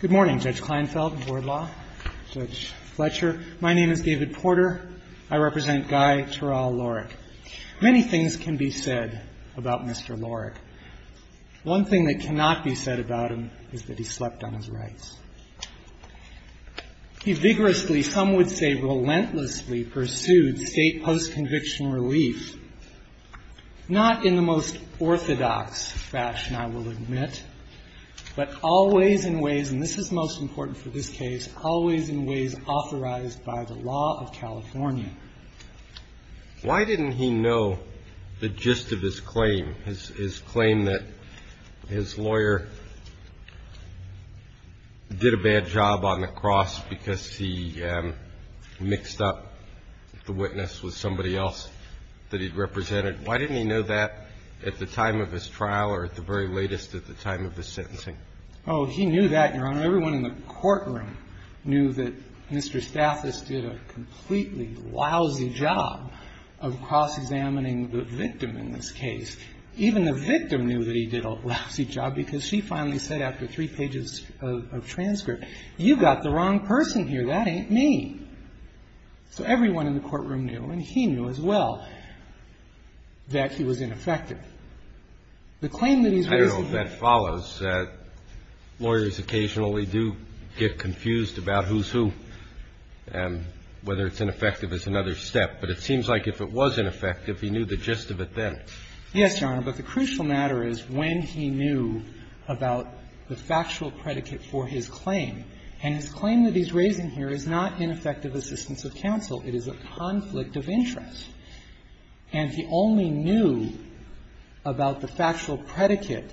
Good morning, Judge Kleinfeld, Board Law, Judge Fletcher. My name is David Porter. I represent Guy Terrell Lorick. Many things can be said about Mr. Lorick. One thing that cannot be said about him is that he slept on his rights. He vigorously, some would say relentlessly, pursued state post-conviction relief, not in the most orthodox fashion, I will admit, but always in ways, and this is most important for this case, always in ways authorized by the law of California. Why didn't he know the gist of his claim, his claim that his lawyer did a bad job on the cross because he mixed up the witness with somebody else that he'd represented? Why didn't he know that at the time of his trial or at the very latest at the time of his sentencing? Oh, he knew that, Your Honor. Everyone in the courtroom knew that Mr. Stathis did a completely lousy job of cross-examining the victim in this case. Even the victim knew that he did a lousy job because she finally said after three pages of transcript, you've got the wrong person here, that ain't me. So everyone in the courtroom knew, and he knew as well, that he was ineffective. The claim that he's raising here --- I know that follows. Lawyers occasionally do get confused about who's who and whether it's ineffective is another step, but it seems like if it was ineffective, he knew the gist of it then. Yes, Your Honor, but the crucial matter is when he knew about the factual predicate for his claim. And his claim that he's raising here is not ineffective assistance of counsel. It is a conflict of interest. And he only knew about the factual predicate,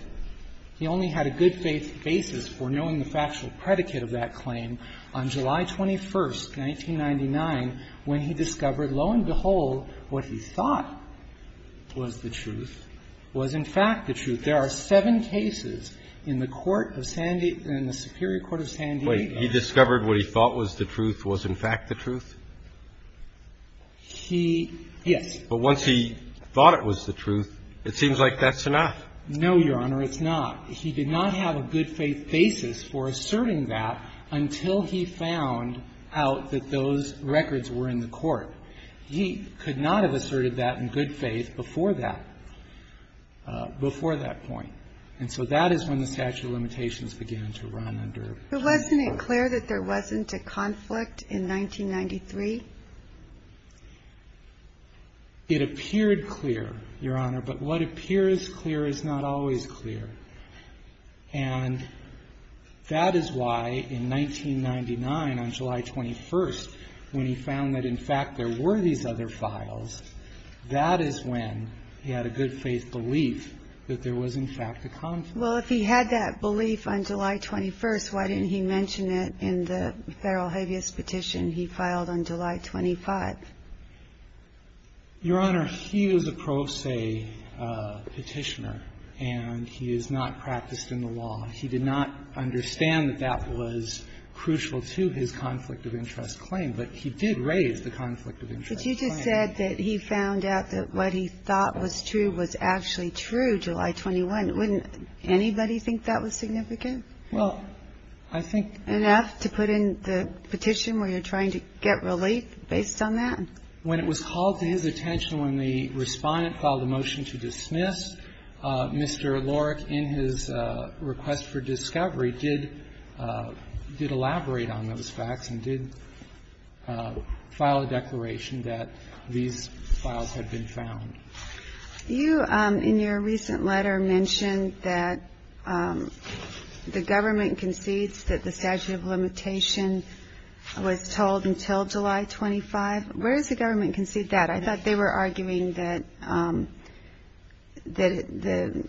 he only had a good faith basis for knowing the factual predicate of that claim on July 21st, 1999, when he discovered, lo and behold, what he thought was the truth was, in fact, the truth. There are seven cases in the Court of Sandy and the Superior Court of San Diego. Wait. He discovered what he thought was the truth was, in fact, the truth? He yes. But once he thought it was the truth, it seems like that's enough. No, Your Honor, it's not. He did not have a good faith basis for asserting that until he found out that those records were in the court. He could not have asserted that in good faith before that, before that point. And so that is when the statute of limitations began to run under. But wasn't it clear that there wasn't a conflict in 1993? It appeared clear, Your Honor, but what appears clear is not always clear. And that is why in 1999, on July 21st, when he found that, in fact, there were these other files, that is when he had a good faith belief that there was, in fact, a conflict. Well, if he had that belief on July 21st, why didn't he mention it in the Federal habeas petition he filed on July 25th? Your Honor, he is a pro se petitioner, and he is not practiced in the law. He did not understand that that was crucial to his conflict of interest claim. But he did raise the conflict of interest claim. But you just said that he found out that what he thought was true was actually true July 21. Wouldn't anybody think that was significant? Well, I think... Enough to put in the petition where you're trying to get relief based on that? When it was called to his attention when the Respondent filed a motion to dismiss, Mr. Lorick, in his request for discovery, did elaborate on those facts and did file a declaration that these files had been found. You, in your recent letter, mentioned that the government concedes that the statute of limitation was told until July 25. Where does the government concede that? I thought they were arguing that the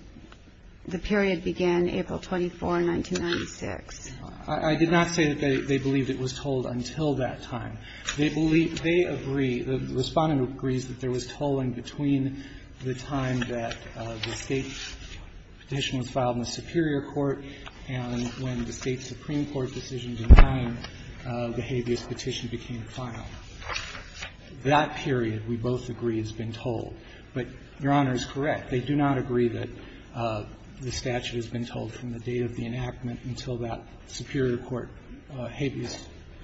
period began April 24, 1996. I did not say that they believed it was told until that time. They believe they agree, the Respondent agrees that there was tolling between the time that the State's petition was filed in the Superior Court and when the State's Supreme Court decision denying the habeas petition became final. That period, we both agree, has been told. But Your Honor is correct. They do not agree that the statute has been told from the date of the enactment until that Superior Court habeas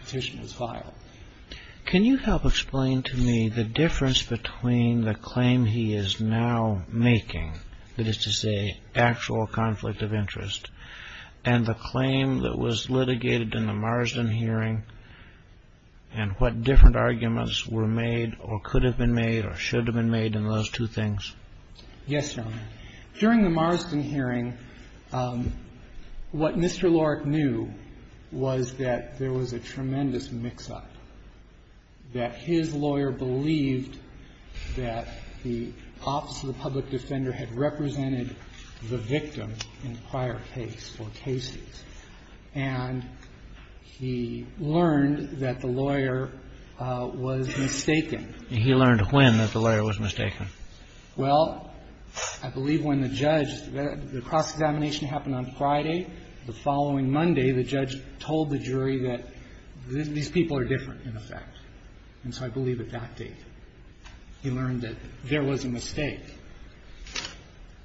petition was filed. Can you help explain to me the difference between the claim he is now making, that is to say, actual conflict of interest, and the claim that was litigated in the Marsden hearing and what different arguments were made or could have been made or should have been made in those two things? Yes, Your Honor. During the Marsden hearing, what Mr. Lorick knew was that there was a tremendous mix-up, that his lawyer believed that the Office of the Public Defender had represented the victim in prior case or cases, and he learned that the lawyer was mistaken. And he learned when that the lawyer was mistaken? Well, I believe when the judge – the cross-examination happened on Friday. The following Monday, the judge told the jury that these people are different, in effect. And so I believe at that date, he learned that there was a mistake.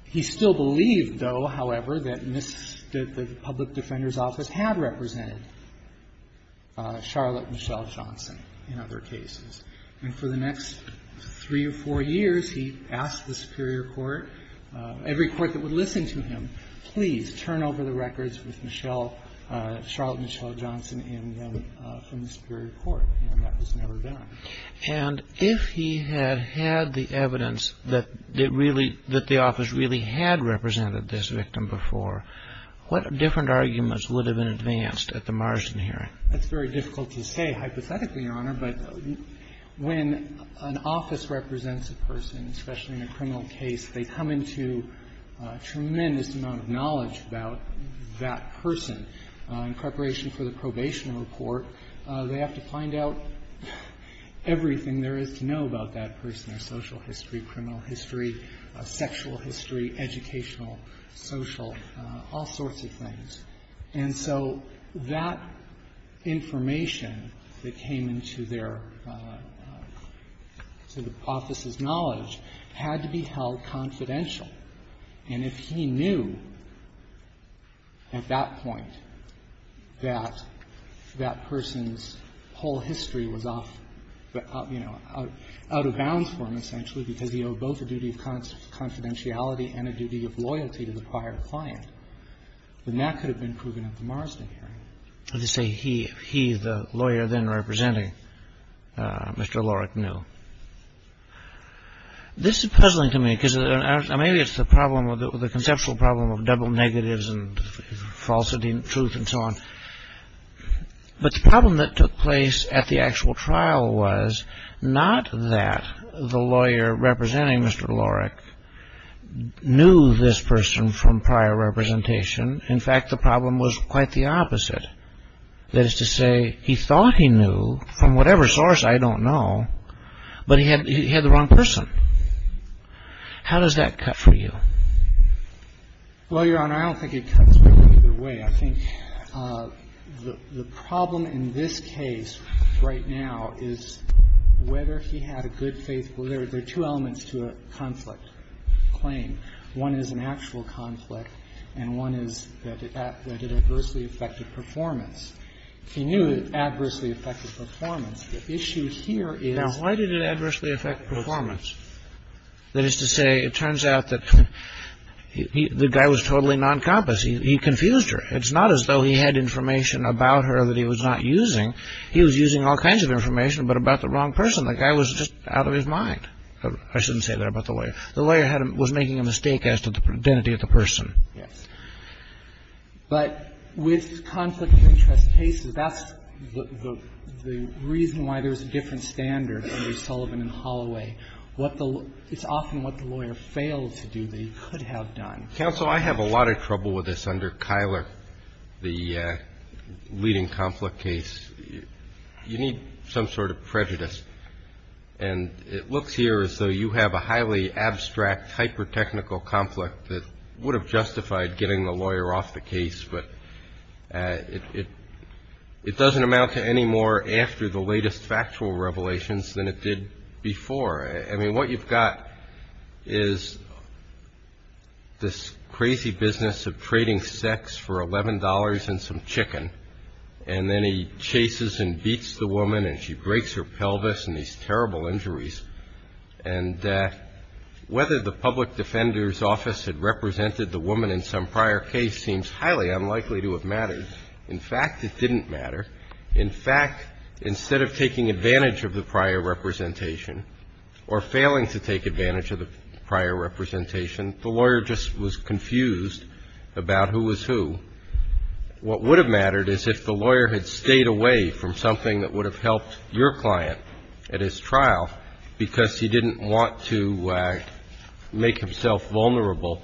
He still believed, though, however, that the Public Defender's Office had represented Charlotte Michelle Johnson in other cases. And for the next three or four years, he asked the Superior Court, every court that would listen to him, please turn over the records with Charlotte Michelle Johnson in them from the Superior Court, and that was never done. And if he had had the evidence that the Office really had represented this victim before, what different arguments would have been advanced at the Marsden hearing? That's very difficult to say, hypothetically, Your Honor, but when an office represents a person, especially in a criminal case, they come into a tremendous amount of knowledge about that person. In preparation for the probation report, they have to find out everything there is to know about that person, their social history, criminal history, sexual history, educational, social, all sorts of things. And so that information that came into their sort of office's knowledge had to be held confidential. And if he knew at that point that that person's whole history was off, you know, out of bounds for him, essentially, because he owed both a duty of confidentiality and a duty of loyalty to the prior client. And that could have been proven at the Marsden hearing. As you say, he, the lawyer then representing Mr. Lorik, knew. This is puzzling to me, because maybe it's the problem of the conceptual problem of double negatives and falsity and truth and so on. But the problem that took place at the actual trial was not that the lawyer representing Mr. Lorik knew this person from prior representation. In fact, the problem was quite the opposite. That is to say, he thought he knew from whatever source, I don't know, but he had the wrong person. How does that cut for you? Well, Your Honor, I don't think it cuts either way. I think the problem in this case right now is whether he had a good faith. There are two elements to a conflict claim. One is an actual conflict, and one is that it adversely affected performance. He knew it adversely affected performance. The issue here is Now, why did it adversely affect performance? That is to say, it turns out that the guy was totally noncompass. He confused her. It's not as though he had information about her that he was not using. He was using all kinds of information, but about the wrong person. The guy was just out of his mind. I shouldn't say that about the lawyer. The lawyer was making a mistake as to the identity of the person. Yes. But with conflict of interest cases, that's the reason why there's a different standard under Sullivan and Holloway. What the lawyer It's often what the lawyer failed to do that he could have done. Counsel, I have a lot of trouble with this under Kyler, the leading conflict case. You need some sort of prejudice, and it looks here as though you have a highly abstract, hyper-technical conflict that would have justified getting the lawyer off the case, but it doesn't amount to any more after the latest factual revelations than it did before. I mean, what you've got is this crazy business of trading sex for $11 and some the woman, and she breaks her pelvis in these terrible injuries, and whether the public defender's office had represented the woman in some prior case seems highly unlikely to have mattered. In fact, it didn't matter. In fact, instead of taking advantage of the prior representation or failing to take advantage of the prior representation, the lawyer just was confused about who was who. What would have mattered is if the lawyer had stayed away from something that would have helped your client at his trial because he didn't want to make himself vulnerable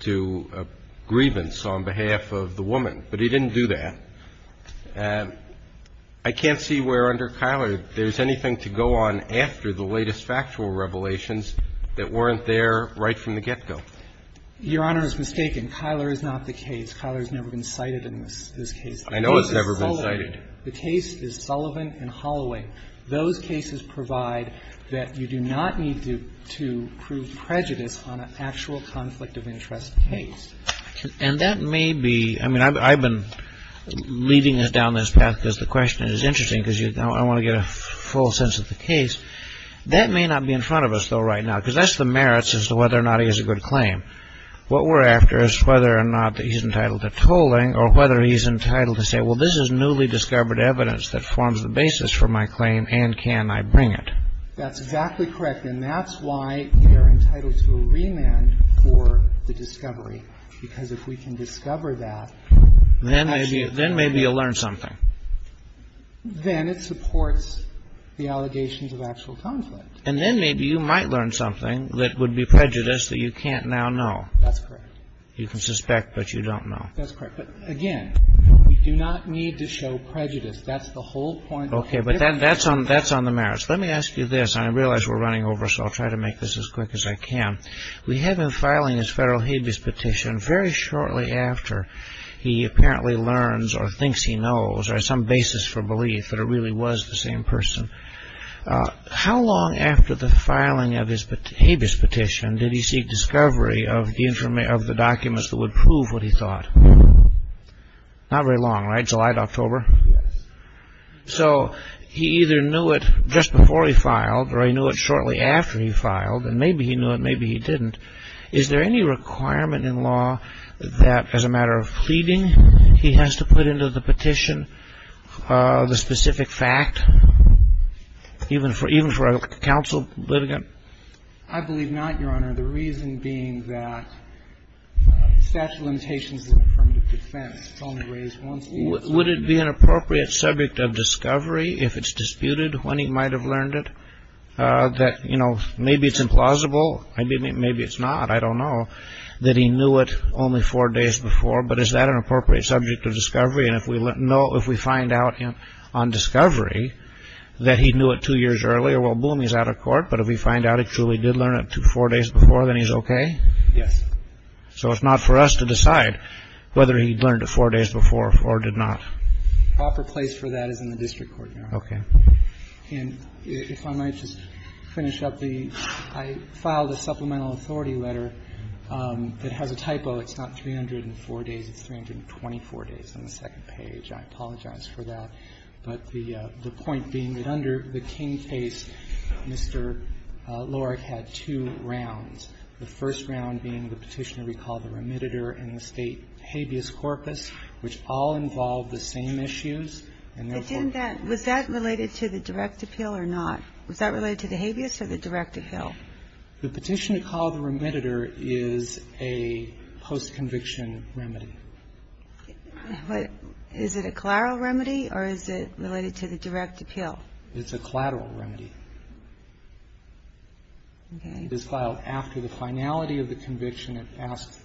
to a grievance on behalf of the woman. But he didn't do that. I can't see where under Kyler there's anything to go on after the latest factual revelations that weren't there right from the get-go. Your Honor is mistaken. Kyler is not the case. Kyler has never been cited in this case. I know it's never been cited. The case is Sullivan and Holloway. Those cases provide that you do not need to prove prejudice on an actual conflict of interest case. And that may be – I mean, I've been leading us down this path because the question is interesting because I want to get a full sense of the case. That may not be in front of us, though, right now, because that's the merits as to whether or not he has a good claim. What we're after is whether or not he's entitled to tolling or whether he's entitled to say, well, this is newly discovered evidence that forms the basis for my claim and can I bring it. That's exactly correct. And that's why we are entitled to a remand for the discovery, because if we can discover that, then actually it's a remand. Then maybe you'll learn something. Then it supports the allegations of actual conflict. And then maybe you might learn something that would be prejudice that you can't now know. That's correct. You can suspect, but you don't know. That's correct. But, again, we do not need to show prejudice. That's the whole point. Okay, but that's on the merits. Let me ask you this, and I realize we're running over, so I'll try to make this as quick as I can. We have him filing his federal habeas petition very shortly after he apparently learns or thinks he knows or has some basis for belief that it really was the same person. How long after the filing of his habeas petition did he seek discovery of the documents that would prove what he thought? Not very long, right? July to October? Yes. So he either knew it just before he filed or he knew it shortly after he filed, and maybe he knew it, maybe he didn't. Is there any requirement in law that, as a matter of pleading, he has to put into the petition the specific fact, even for a counsel litigant? I believe not, Your Honor. The reason being that statute of limitations is an affirmative defense. It's only raised once a year. Would it be an appropriate subject of discovery if it's disputed when he might have learned it, that maybe it's implausible? Maybe it's not. I don't know that he knew it only four days before, but is that an appropriate subject of discovery? And if we find out on discovery that he knew it two years earlier, well, boom, he's out of court. But if we find out he truly did learn it four days before, then he's okay? Yes. So it's not for us to decide whether he learned it four days before or did not. The proper place for that is in the district court, Your Honor. Okay. And if I might just finish up the, I filed a supplemental authority letter that has a I apologize for that. But the point being that under the King case, Mr. Loehrig had two rounds, the first round being the petition to recall the remediator and the State habeas corpus, which all involved the same issues, and therefore was that related to the direct appeal or not? Was that related to the habeas or the direct appeal? The petition to call the remediator is a post-conviction remedy. Is it a collateral remedy or is it related to the direct appeal? It's a collateral remedy. Okay. It is filed after the finality of the conviction and asks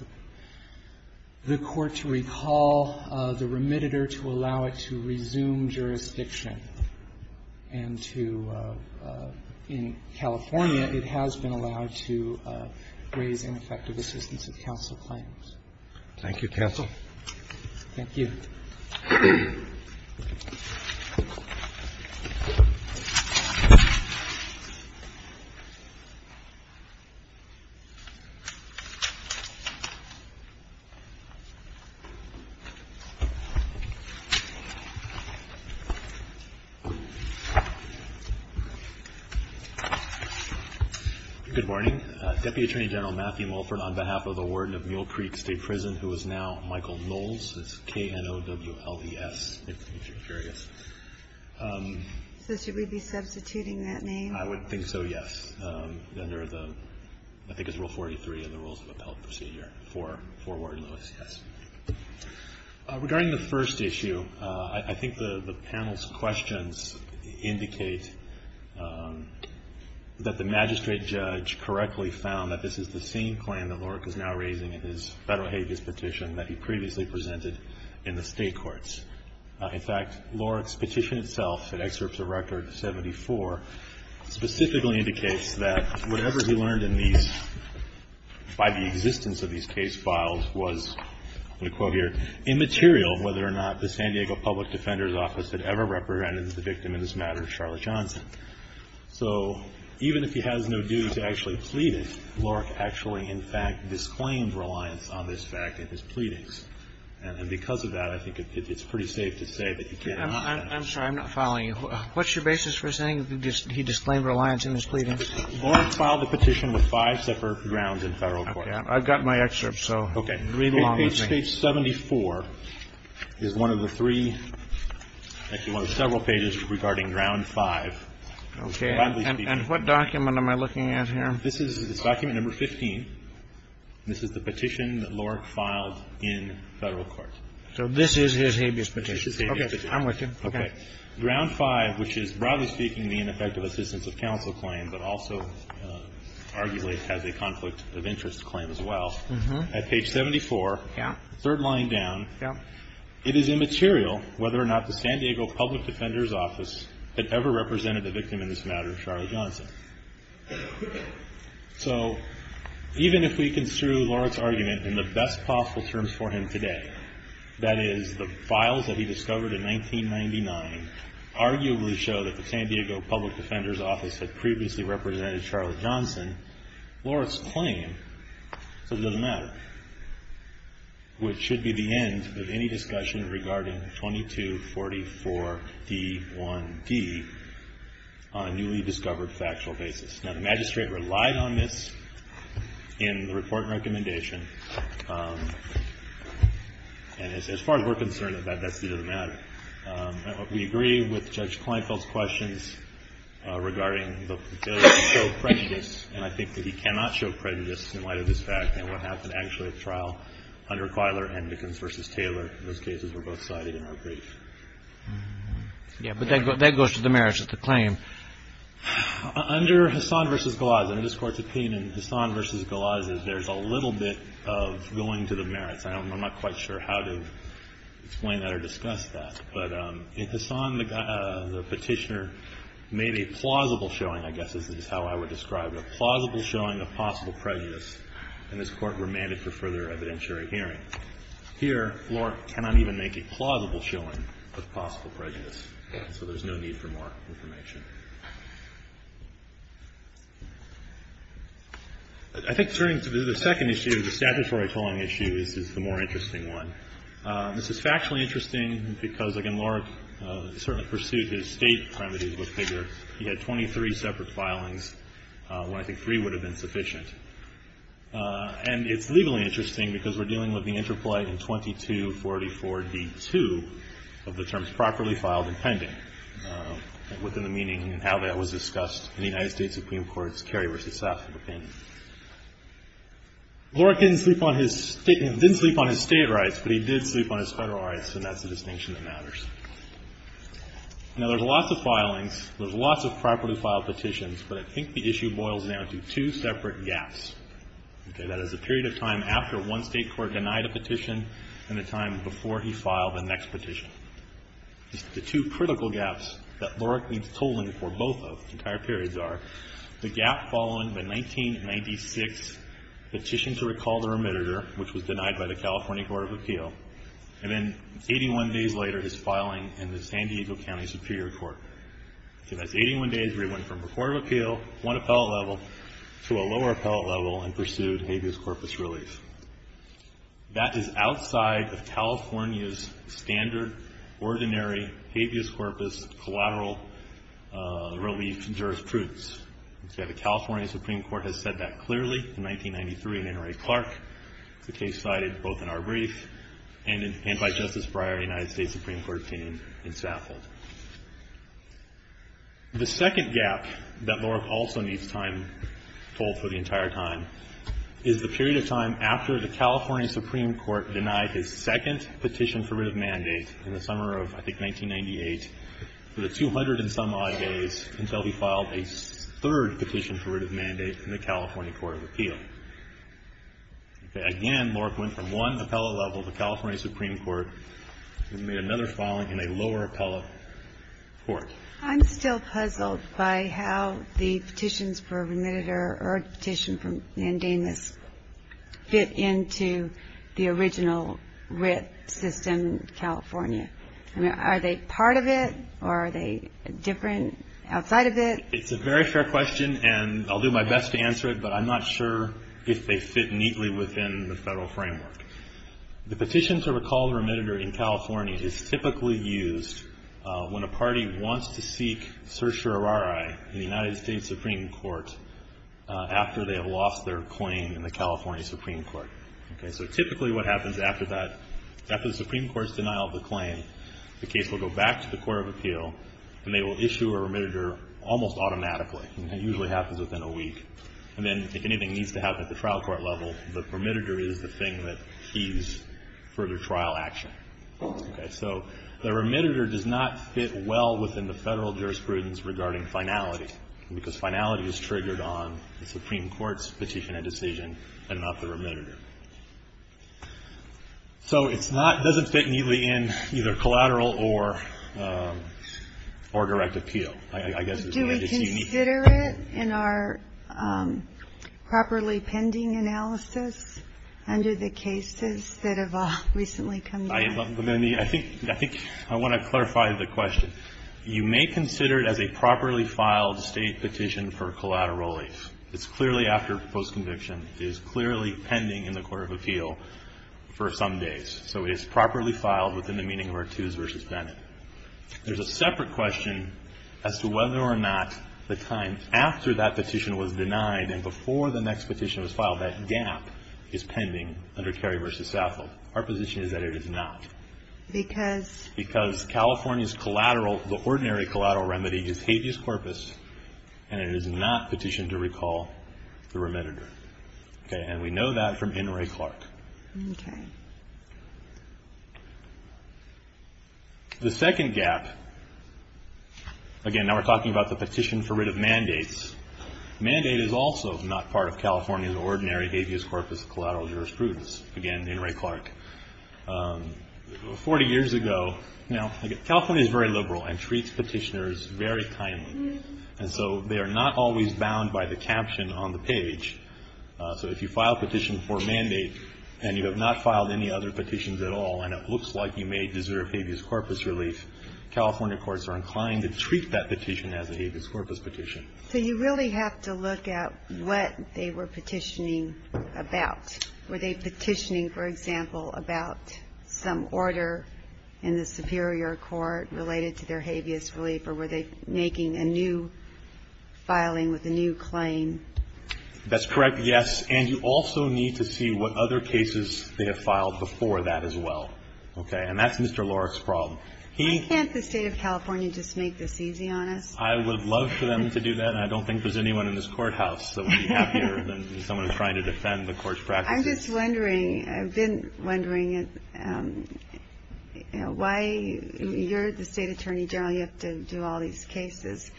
the court to recall the remediator to allow it to resume jurisdiction and to, in California, it has been allowed to raise ineffective assistance of counsel claims. Thank you, counsel. Thank you. Good morning. Deputy Attorney General Matthew Mulford on behalf of the warden of Mule Creek State Prison, who is now Michael Knowles. It's K-N-O-W-L-E-S, if you're curious. So should we be substituting that name? I would think so, yes, under the, I think it's Rule 43 in the Rules of Appellate Procedure for Warden Lewis, yes. Regarding the first issue, I think the panel's questions indicate that the court has specifically found that this is the same claim that Lorek is now raising in his federal habeas petition that he previously presented in the state courts. In fact, Lorek's petition itself, it excerpts a record 74, specifically indicates that whatever he learned in these, by the existence of these case files was, let me quote here, immaterial whether or not the San Diego Public Defender's Office had ever represented the victim in this matter, Charlotte Johnson. So even if he has no due to actually plead it, Lorek actually, in fact, disclaimed reliance on this fact in his pleadings. And because of that, I think it's pretty safe to say that he cannot. I'm sorry, I'm not following you. What's your basis for saying he disclaimed reliance in his pleadings? Lorek filed the petition with five separate grounds in federal court. I've got my excerpt, so read along with me. Page 74 is one of the three, actually one of several pages regarding ground 5. Okay. And what document am I looking at here? This is document number 15. This is the petition that Lorek filed in federal court. So this is his habeas petition. This is his habeas petition. Okay. I'm with you. Okay. Ground 5, which is, broadly speaking, the ineffective assistance of counsel claim, but also arguably has a conflict of interest claim as well. At page 74. Yeah. Third line down. Yeah. It is immaterial whether or not the San Diego Public Defender's Office had ever represented the victim in this matter, Charlie Johnson. So even if we construe Lorek's argument in the best possible terms for him today, that is, the files that he discovered in 1999 arguably show that the San Diego Public Defender's Office had previously represented Charlie Johnson, Lorek's claim, so it doesn't matter, which should be the end of any discussion regarding 2244D1D on a newly discovered factual basis. Now, the magistrate relied on this in the report and recommendation. And as far as we're concerned, that doesn't matter. We agree with Judge Kleinfeld's questions regarding the show of prejudice, and I think that he cannot show prejudice in light of this fact and what happened, actually, at trial under Klyler-Hendikens v. Taylor. Those cases were both cited in our brief. Yeah, but that goes to the merits of the claim. Under Hassan v. Galazes, under this Court's opinion, Hassan v. Galazes, there's a little bit of going to the merits. I'm not quite sure how to explain that or discuss that. But in Hassan, the petitioner made a plausible showing, I guess this is how I would describe it, a plausible showing of possible prejudice, and this Court remanded for further evidentiary hearing. Here, Lorek cannot even make a plausible showing of possible prejudice, so there's no need for more information. I think turning to the second issue, the statutory filing issue, is the more interesting one. This is factually interesting because, again, Lorek certainly pursued his state remedies with vigor. He had 23 separate filings, when I think three would have been sufficient. And it's legally interesting because we're dealing with the interplay in 2244D2 and how that was discussed in the United States Supreme Court's Kerry v. Sasson opinion. Lorek didn't sleep on his state rights, but he did sleep on his federal rights, and that's the distinction that matters. Now, there's lots of filings, there's lots of properly filed petitions, but I think the issue boils down to two separate gaps. That is, the period of time after one state court denied a petition and the time before he filed the next petition. The two critical gaps that Lorek needs tolling for both of, the entire periods are, the gap following the 1996 petition to recall the remitter, which was denied by the California Court of Appeal, and then 81 days later, his filing in the San Diego County Superior Court. So that's 81 days where he went from the Court of Appeal, one appellate level, to a lower appellate level and pursued habeas corpus relief. That is outside of California's standard, ordinary, habeas corpus collateral relief jurisprudence. The California Supreme Court has said that clearly in 1993 in Henry Clark, the case cited both in our brief and by Justice Breyer, United States Supreme Court opinion in Saffold. The second gap that Lorek also needs time, tolled for the entire time, is the period of time after the California Supreme Court denied his second petition for writ of mandate in the summer of, I think, 1998, for the 200 and some odd days until he filed a third petition for writ of mandate in the California Court of Appeal. Again, Lorek went from one appellate level to California Supreme Court and made another filing in a lower appellate court. I'm still puzzled by how the petitions for remitted or petition for mandamus fit into the original writ system in California. I mean, are they part of it, or are they different outside of it? It's a very fair question, and I'll do my best to answer it, but I'm not sure if they fit neatly within the Federal framework. The petition to recall the remitted or in California is typically used when a party wants to seek certiorari in the United States Supreme Court after they have lost their claim in the California Supreme Court. So typically what happens after that, after the Supreme Court's denial of the claim, the case will go back to the Court of Appeal, and they will issue a remitted or almost automatically, and that usually happens within a week. And then if anything needs to happen at the trial court level, the remitted or is the thing that keys further trial action. So the remitted or does not fit well within the Federal jurisprudence regarding finality, because finality is triggered on the Supreme Court's petition and decision and not the remitted or. So it's not, it doesn't fit neatly in either collateral or direct appeal. I guess it's unique. Do we consider it in our properly pending analysis under the cases that have recently come to light? I think I want to clarify the question. You may consider it as a properly filed State petition for collateral relief. It's clearly after postconviction. It is clearly pending in the Court of Appeal for some days. So it is properly filed within the meaning of Artuse v. Bennett. There's a separate question as to whether or not the time after that petition was denied and before the next petition was filed, that gap is pending under Cary v. Saffold. Our position is that it is not. Because? Because California's collateral, the ordinary collateral remedy is habeas corpus, and it is not petitioned to recall the remitted or. And we know that from N. Ray Clark. Okay. The second gap, again, now we're talking about the petition for rid of mandates. Mandate is also not part of California's ordinary habeas corpus collateral jurisprudence. Again, N. Ray Clark. Forty years ago. Now, California is very liberal and treats petitioners very kindly. And so they are not always bound by the caption on the page. So if you file a petition for a mandate and you have not filed any other California courts are inclined to treat that petition as a habeas corpus petition. So you really have to look at what they were petitioning about. Were they petitioning, for example, about some order in the superior court related to their habeas relief, or were they making a new filing with a new claim? That's correct. Yes. And you also need to see what other cases they have filed before that as well. Okay. And that's Mr. Lorek's problem. Why can't the state of California just make this easy on us? I would love for them to do that. I don't think there's anyone in this courthouse that would be happier than someone trying to defend the court's practices. I'm just wondering. I've been wondering why you're the state attorney general. You have to do all these cases.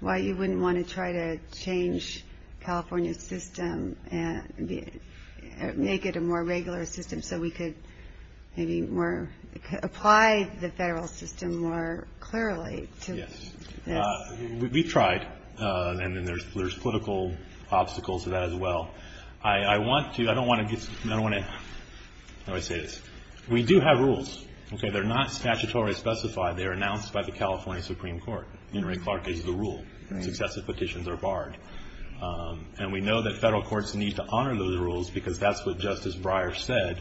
Why you wouldn't want to try to change California's system and make it a more sterile system more clearly? Yes. We've tried. And there's political obstacles to that as well. I don't want to say this. We do have rules. They're not statutorily specified. They're announced by the California Supreme Court. Henry Clark gives the rule. Successive petitions are barred. And we know that federal courts need to honor those rules because that's what Justice Breyer said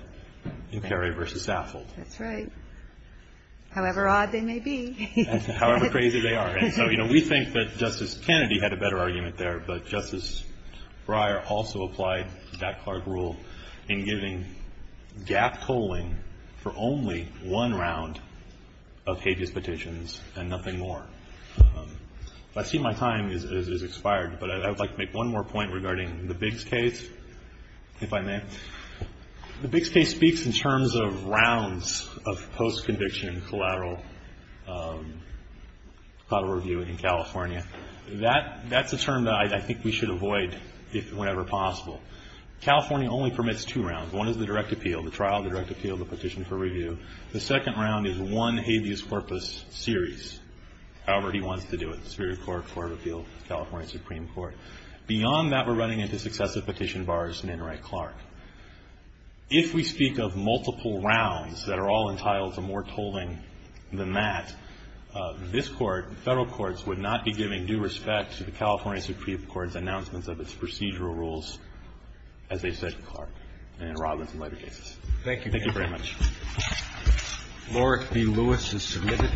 in Perry v. Saffold. That's right. However odd they may be. However crazy they are. And so, you know, we think that Justice Kennedy had a better argument there. But Justice Breyer also applied that Clark rule in giving gap tolling for only one round of habeas petitions and nothing more. I see my time has expired. But I would like to make one more point regarding the Biggs case, if I may. The Biggs case speaks in terms of rounds of post-conviction collateral review in California. That's a term that I think we should avoid whenever possible. California only permits two rounds. One is the direct appeal, the trial, the direct appeal, the petition for review. The second round is one habeas corpus series, however he wants to do it, the Superior Court, Court of Appeal, California Supreme Court. Beyond that, we're running into successive petition bars in Enright Clark. If we speak of multiple rounds that are all entitled to more tolling than that, this Court, the Federal courts, would not be giving due respect to the California Supreme Court's announcements of its procedural rules, as they said to Clark, and in Robbins and later cases. Thank you. Thank you very much. Laurie B. Lewis is submitted.